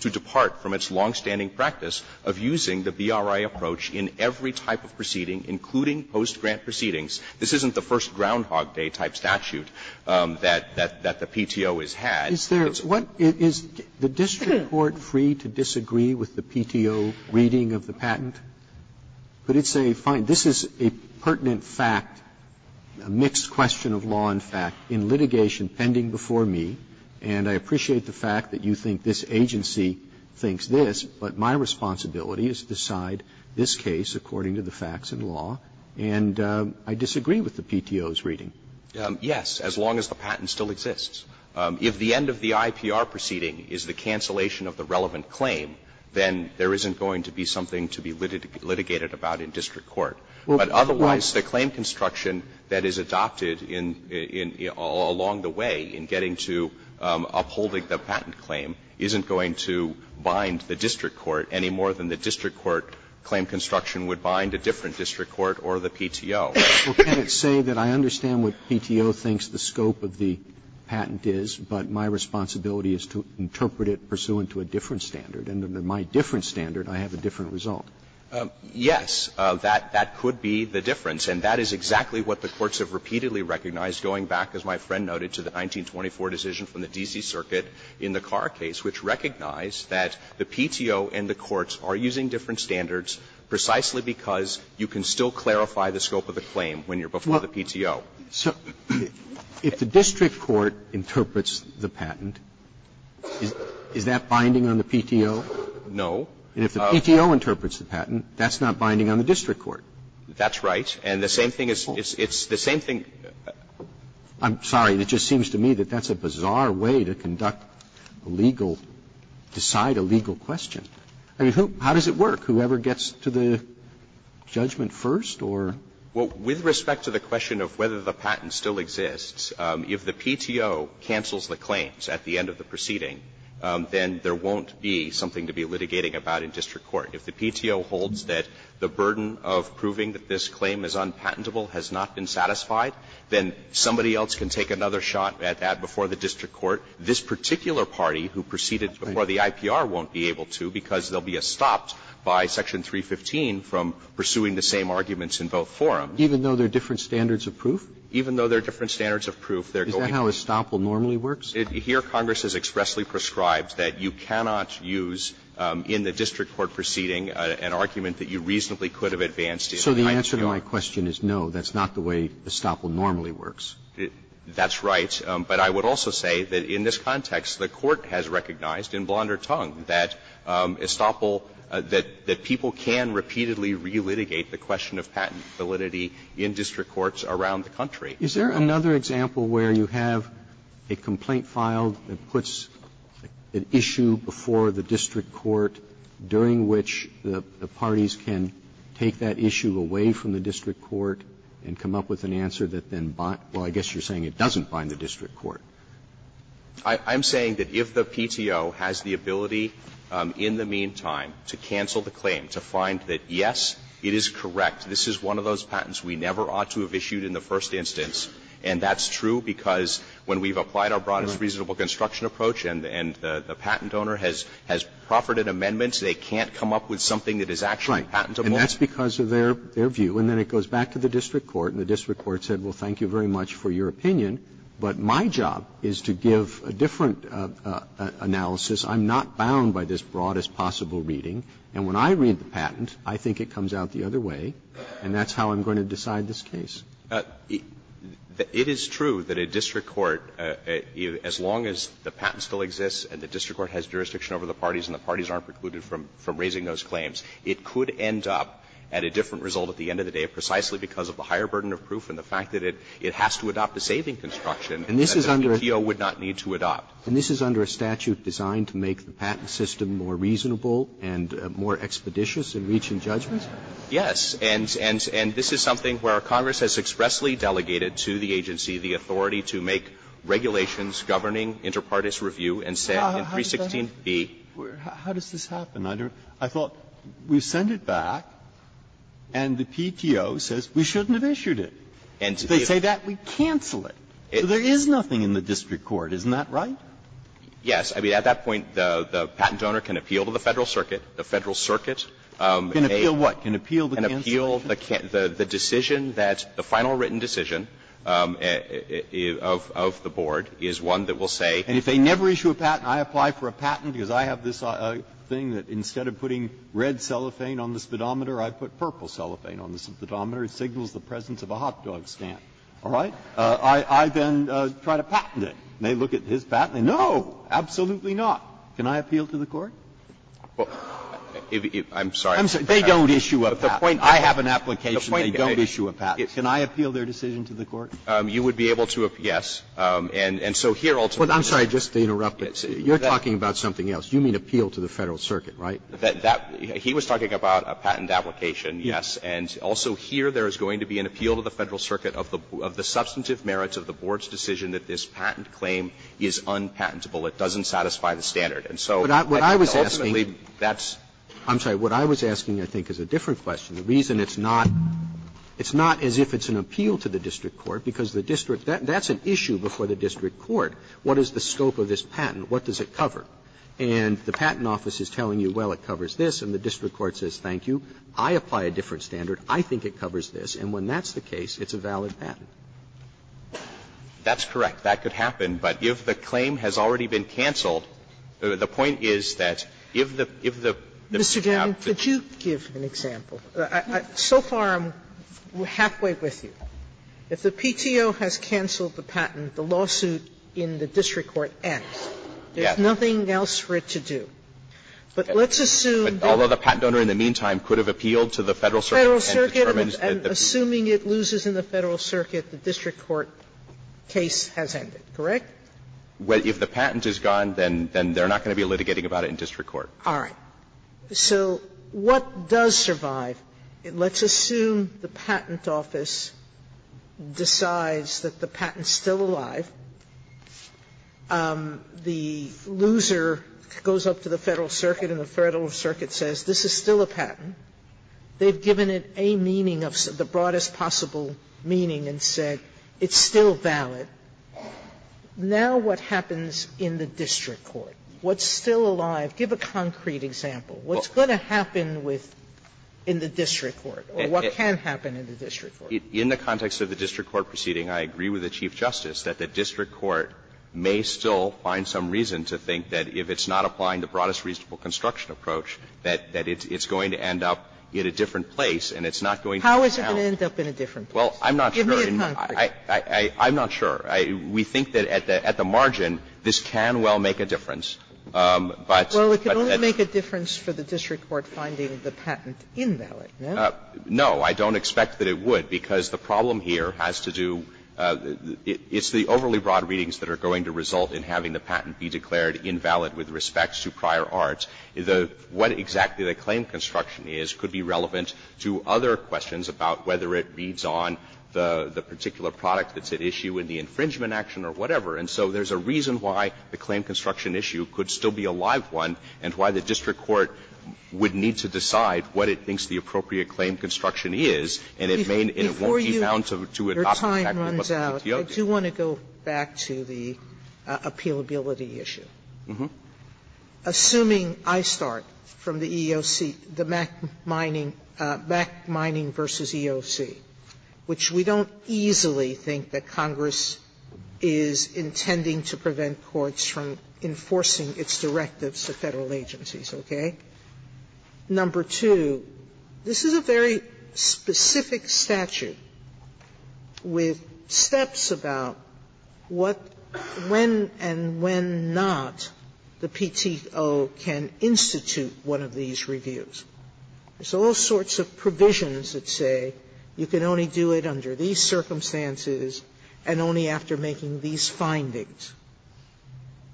to depart from its longstanding practice of using the BRI approach in every type of proceeding, including post-grant proceedings. This isn't the first Groundhog Day type statute that the PTO has had. Roberts, is there what is the district court free to disagree with the PTO reading of the patent? But it's a fine, this is a pertinent fact, a mixed question of law and fact in litigation pending before me. And I appreciate the fact that you think this agency thinks this, but my responsibility is to decide this case according to the facts in law. And I disagree with the PTO's reading. Yes, as long as the patent still exists. If the end of the IPR proceeding is the cancellation of the relevant claim, then there isn't going to be something to be litigated about in district court. But otherwise, the claim construction that is adopted in along the way in getting to upholding the patent claim isn't going to bind the district court any more than the district court claim construction would bind a different district court or the PTO. Roberts, well, can it say that I understand what PTO thinks the scope of the patent is, but my responsibility is to interpret it pursuant to a different standard, and under my different standard, I have a different result? Yes, that could be the difference, and that is exactly what the courts have repeatedly recognized going back, as my friend noted, to the 1924 decision from the D.C. Circuit in the Carr case, which recognized that the PTO and the courts are using different standards precisely because you can still clarify the scope of the claim when you're before the PTO. So if the district court interprets the patent, is that binding on the PTO? No. And if the PTO interprets the patent, that's not binding on the district court? That's right. And the same thing is the same thing. I'm sorry. It just seems to me that that's a bizarre way to conduct a legal, decide a legal question. I mean, how does it work? Whoever gets to the judgment first, or? Well, with respect to the question of whether the patent still exists, if the PTO cancels the claims at the end of the proceeding, then there won't be something to be litigating about in district court. If the PTO holds that the burden of proving that this claim is unpatentable has not been satisfied, then somebody else can take another shot at that before the district court. This particular party who proceeded before the IPR won't be able to because they'll be stopped by Section 315 from pursuing the same arguments in both forums. Even though there are different standards of proof? Even though there are different standards of proof, they're going to. Is that how estoppel normally works? Here, Congress has expressly prescribed that you cannot use in the district court proceeding an argument that you reasonably could have advanced in the height of guilt. So the answer to my question is no, that's not the way estoppel normally works. That's right. But I would also say that in this context, the Court has recognized in blonder tongue that estoppel, that people can repeatedly relitigate the question of patent validity in district courts around the country. Is there another example where you have a complaint filed that puts an issue before the district court during which the parties can take that issue away from the district court and come up with an answer that then, well, I guess you're saying it doesn't bind the district court? I'm saying that if the PTO has the ability in the meantime to cancel the claim, to find that, yes, it is correct, this is one of those patents we never ought to have issued in the first instance, and that's true because when we've applied our broadest reasonable construction approach and the patent owner has proffered an amendment, they can't come up with something that is actually patentable. And that's because of their view. And then it goes back to the district court, and the district court said, well, thank you very much for your opinion, but my job is to give a different analysis. I'm not bound by this broadest possible reading. And when I read the patent, I think it comes out the other way, and that's how I'm going to decide this case. It is true that a district court, as long as the patent still exists and the district court has jurisdiction over the parties and the parties aren't precluded from raising those claims, it could end up at a different result at the end of the day, precisely because of the higher burden of proof and the fact that it has to adopt a saving construction that the PTO would not need to adopt. Roberts. And this is under a statute designed to make the patent system more reasonable and more expeditious in reaching judgment? Yes. And this is something where Congress has expressly delegated to the agency the authority to make regulations governing interparties review and set in 316b. How does that happen? How does this happen? I thought we send it back and the PTO says we shouldn't have issued it. If they say that, we cancel it. There is nothing in the district court, isn't that right? Yes. I mean, at that point, the patent owner can appeal to the Federal Circuit. The Federal Circuit may appeal the decision that the final written decision of the board is one that will say. And if they never issue a patent, I apply for a patent because I have this thing that instead of putting red cellophane on the speedometer, I put purple cellophane on the speedometer. It signals the presence of a hot dog stand. All right? I then try to patent it. And they look at his patent and say, no, absolutely not. Can I appeal to the court? I'm sorry. They don't issue a patent. I have an application. They don't issue a patent. Can I appeal their decision to the court? You would be able to, yes. And so here ultimately. I'm sorry, just to interrupt, but you're talking about something else. You mean appeal to the Federal Circuit, right? That he was talking about a patent application, yes. And also here there is going to be an appeal to the Federal Circuit of the substantive merits of the board's decision that this patent claim is unpatentable. It doesn't satisfy the standard. And so ultimately that's. I'm sorry. What I was asking, I think, is a different question. The reason it's not, it's not as if it's an appeal to the district court because the district, that's an issue before the district court. What is the scope of this patent? What does it cover? And the patent office is telling you, well, it covers this, and the district court says, thank you. I apply a different standard. I think it covers this. And when that's the case, it's a valid patent. That's correct. That could happen. But if the claim has already been canceled, the point is that if the, if the, if the Mr. Gannon, could you give an example? So far I'm halfway with you. If the PTO has canceled the patent, the lawsuit in the district court ends. There's nothing else for it to do. But let's assume that. Although the patent owner in the meantime could have appealed to the Federal Circuit and determined that the. Federal Circuit, and assuming it loses in the Federal Circuit, the district court case has ended, correct? Well, if the patent is gone, then they're not going to be litigating about it in district court. All right. So what does survive? Let's assume the patent office decides that the patent's still alive. The loser goes up to the Federal Circuit and the Federal Circuit says this is still a patent. They've given it a meaning of the broadest possible meaning and said it's still valid. Now what happens in the district court? What's still alive? Give a concrete example. What's going to happen with the district court or what can happen in the district court? In the context of the district court proceeding, I agree with the Chief Justice that the district court may still find some reason to think that if it's not applying the broadest reasonable construction approach, that it's going to end up in a different place and it's not going to be counted. How is it going to end up in a different place? Give me a concrete. I'm not sure. We think that at the margin, this can well make a difference. But that's Sotomayor Well, it can only make a difference for the district court finding the patent invalid, no? Gannon No. I don't expect that it would, because the problem here has to do, it's the overly broad readings that are going to result in having the patent be declared invalid with respect to prior art. What exactly the claim construction is could be relevant to other questions about whether it reads on the particular product that's at issue in the infringement action or whatever. And so there's a reason why the claim construction issue could still be a live one and why the district court would need to decide what it thinks the appropriate claim construction is. And it may not be found to adopt the patent in Muscatetio case. Sotomayor Before you, your time runs out, I do want to go back to the appealability issue. Assuming I start from the EEOC, the Mack Mining versus EEOC, which we don't easily think that Congress is intending to prevent courts from enforcing its directives to Federal agencies, okay? Number two, this is a very specific statute with steps about what, when and when not the PTO can institute one of these reviews. There's all sorts of provisions that say you can only do it under these circumstances and only after making these findings.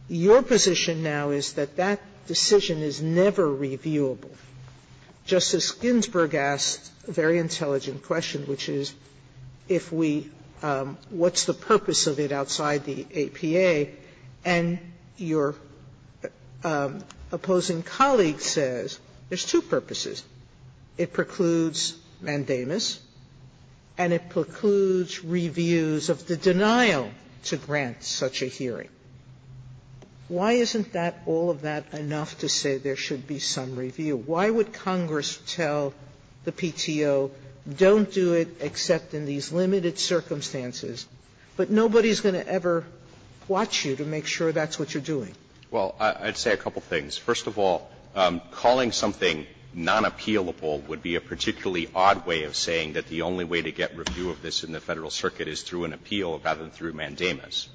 Your position now is that that decision is never reviewable. Justice Ginsburg asked a very intelligent question, which is if we – what's the purpose of it outside the APA? And your opposing colleague says there's two purposes. It precludes mandamus, and it precludes reviews of the denial to grant such a hearing. Why isn't that, all of that, enough to say there should be some review? Why would Congress tell the PTO, don't do it except in these limited circumstances, but nobody's going to ever watch you to make sure that's what you're doing? Well, I'd say a couple things. First of all, calling something nonappealable would be a particularly odd way of saying that the only way to get review of this in the Federal circuit is through an appeal rather than through mandamus.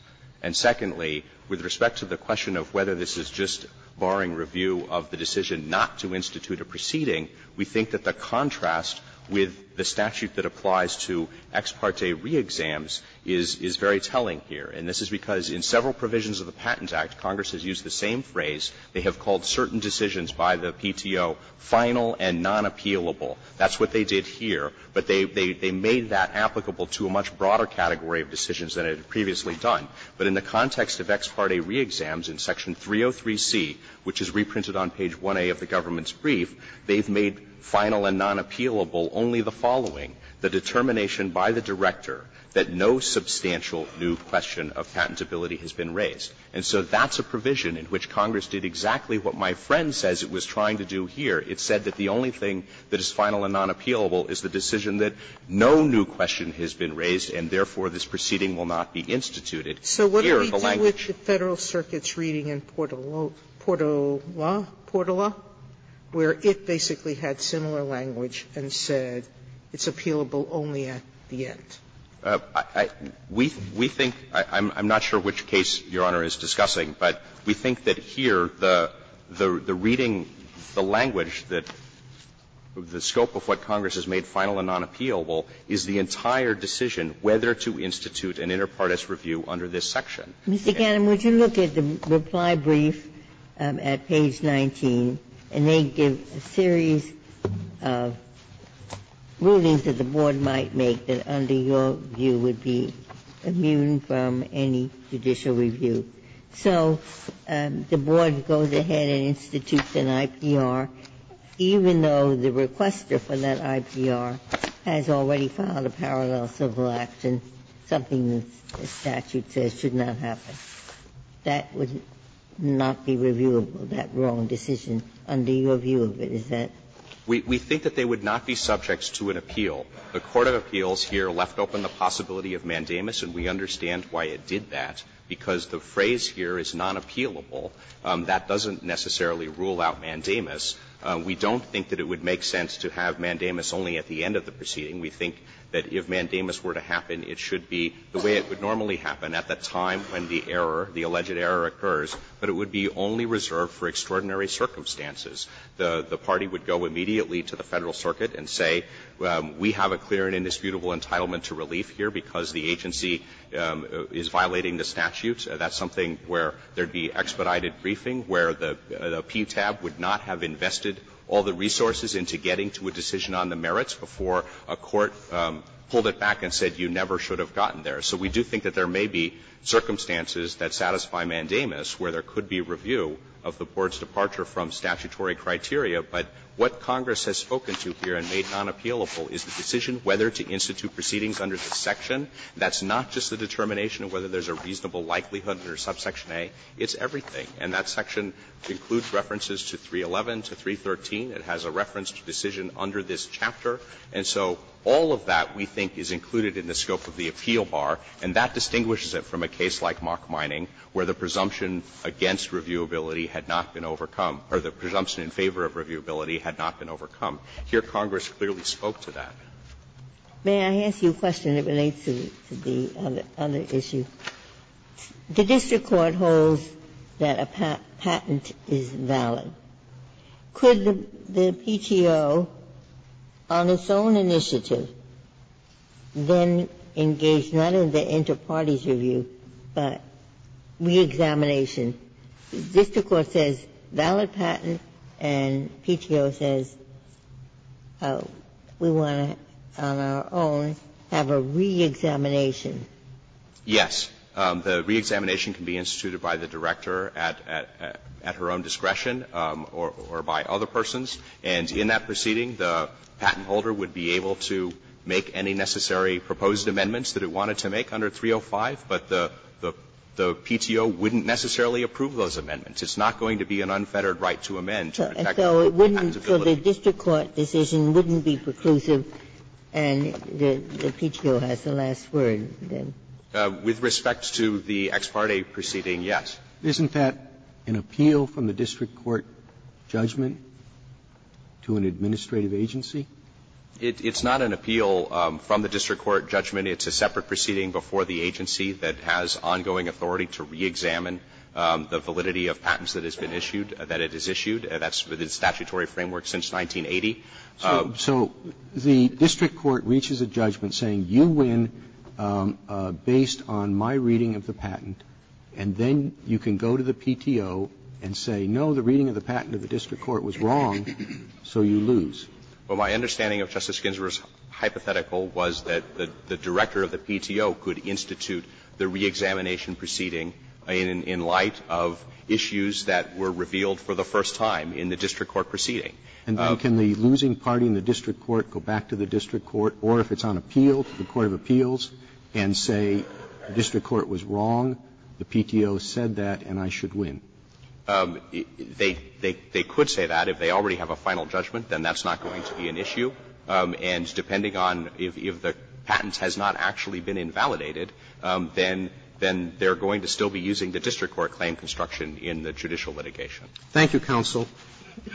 And secondly, with respect to the question of whether this is just barring review of the decision not to institute a proceeding, we think that the contrast with the statute that applies to ex parte reexams is very telling here. And this is because in several provisions of the Patents Act, Congress has used the same phrase. They have called certain decisions by the PTO final and nonappealable. That's what they did here. But they made that applicable to a much broader category of decisions than it had previously done. But in the context of ex parte reexams in section 303C, which is reprinted on page 1A of the government's brief, they've made final and nonappealable only the following, the determination by the director that no substantial new question of patentability has been raised. And so that's a provision in which Congress did exactly what my friend says it was trying to do here. It said that the only thing that is final and nonappealable is the decision that no new question has been raised, and therefore, this proceeding will not be instituted. Here, the language of the Federal circuit's reading in Portola, where it basically had similar language and said it's appealable only at the end. We think – I'm not sure which case Your Honor is discussing, but we think that here the reading, the language, the scope of what Congress has made final and nonappealable is the entire decision whether to institute an inter partes review under this section. Ginsburg. Mr. Gannon, would you look at the reply brief at page 19, and they give a series of rulings that the Board might make that under your view would be immune from any judicial review. So the Board goes ahead and institutes an IPR, even though the requester for that IPR has already filed a parallel civil action, something the statute says should not happen. That would not be reviewable, that wrong decision, under your view of it. Is that? We think that they would not be subjects to an appeal. The court of appeals here left open the possibility of mandamus, and we understand why it did that, because the phrase here is nonappealable. That doesn't necessarily rule out mandamus. We don't think that it would make sense to have mandamus only at the end of the proceeding. We think that if mandamus were to happen, it should be the way it would normally happen at the time when the error, the alleged error occurs, but it would be only reserved for extraordinary circumstances. The party would go immediately to the Federal Circuit and say, we have a clear and indisputable entitlement to relief here because the agency is violating the statute. That's something where there would be expedited briefing, where the PTAB would not have invested all the resources into getting to a decision on the merits before a court pulled it back and said you never should have gotten there. So we do think that there may be circumstances that satisfy mandamus where there Now, that's not the primary criteria, but what Congress has spoken to here and made nonappealable is the decision whether to institute proceedings under this section. That's not just the determination of whether there's a reasonable likelihood under subsection A, it's everything. And that section includes references to 311, to 313. It has a reference to decision under this chapter. And so all of that, we think, is included in the scope of the appeal bar, and that distinguishes it from a case like Mock Mining, where the presumption against reviewability had not been overcome, or the presumption in favor of reviewability had not been overcome. Here, Congress clearly spoke to that. Ginsburg, may I ask you a question that relates to the other issue? The district court holds that a patent is valid. Could the PTO, on its own initiative, then engage not in the inter-parties review, but reexamination? The district court says valid patent and PTO says we want to, on our own, have a reexamination. Yes. The reexamination can be instituted by the director at her own discretion or by other persons. And in that proceeding, the patent holder would be able to make any necessary proposed amendments that it wanted to make under 305, but the PTO wouldn't necessarily approve those amendments. It's not going to be an unfettered right to amend to protect the patentability. Ginsburg, so the district court decision wouldn't be preclusive, and the PTO has the last word. With respect to the ex parte proceeding, yes. Isn't that an appeal from the district court judgment to an administrative agency? It's not an appeal from the district court judgment. It's a separate proceeding before the agency that has ongoing authority to reexamine the validity of patents that has been issued, that it has issued. That's within statutory framework since 1980. So the district court reaches a judgment saying, you win based on my reading of the patent, and then you can go to the PTO and say, no, the reading of the patent of the district court was wrong, so you lose. Well, my understanding of Justice Ginsburg's hypothetical was that the director of the PTO could institute the reexamination proceeding in light of issues that were revealed for the first time in the district court proceeding. And then can the losing party in the district court go back to the district court, or if it's on appeal, to the court of appeals and say the district court was wrong, the PTO said that, and I should win? They could say that. If they already have a final judgment, then that's not going to be an issue. And depending on if the patent has not actually been invalidated, then they're going to still be using the district court claim construction in the judicial litigation. Thank you, counsel.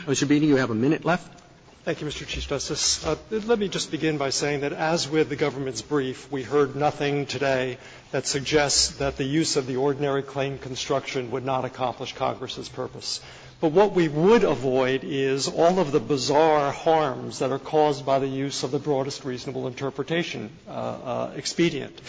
Mr. Beeney, you have a minute left. Thank you, Mr. Chief Justice. Let me just begin by saying that as with the government's brief, we heard nothing today that suggests that the use of the ordinary claim construction would not accomplish Congress's purpose. But what we would avoid is all of the bizarre harms that are caused by the use of the broadest reasonable interpretation, expedient.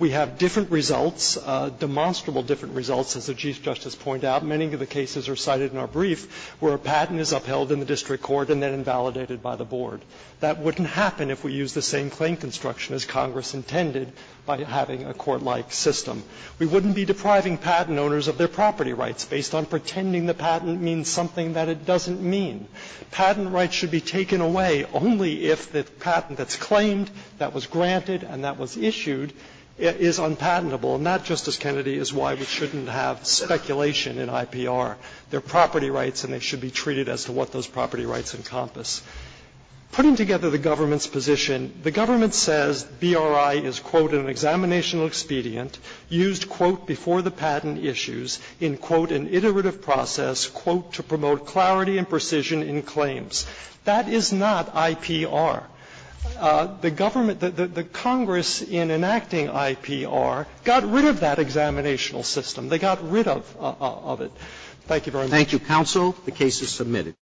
We have different results, demonstrable different results, as the Chief Justice pointed out. Many of the cases are cited in our brief where a patent is upheld in the district court and then invalidated by the board. That wouldn't happen if we used the same claim construction as Congress intended by having a court-like system. We wouldn't be depriving patent owners of their property rights based on pretending the patent means something that it doesn't mean. Patent rights should be taken away only if the patent that's claimed, that was granted and that was issued, is unpatentable. And that, Justice Kennedy, is why we shouldn't have speculation in IPR. They're property rights and they should be treated as to what those property rights encompass. Putting together the government's position, the government says BRI is, quote, an examinational expedient used, quote, before the patent issues in, quote, an iterative process, quote, to promote clarity and precision in claims. That is not IPR. The government, the Congress in enacting IPR got rid of that examinational system. They got rid of it. Thank you very much. Roberts. Thank you, counsel. The case is submitted.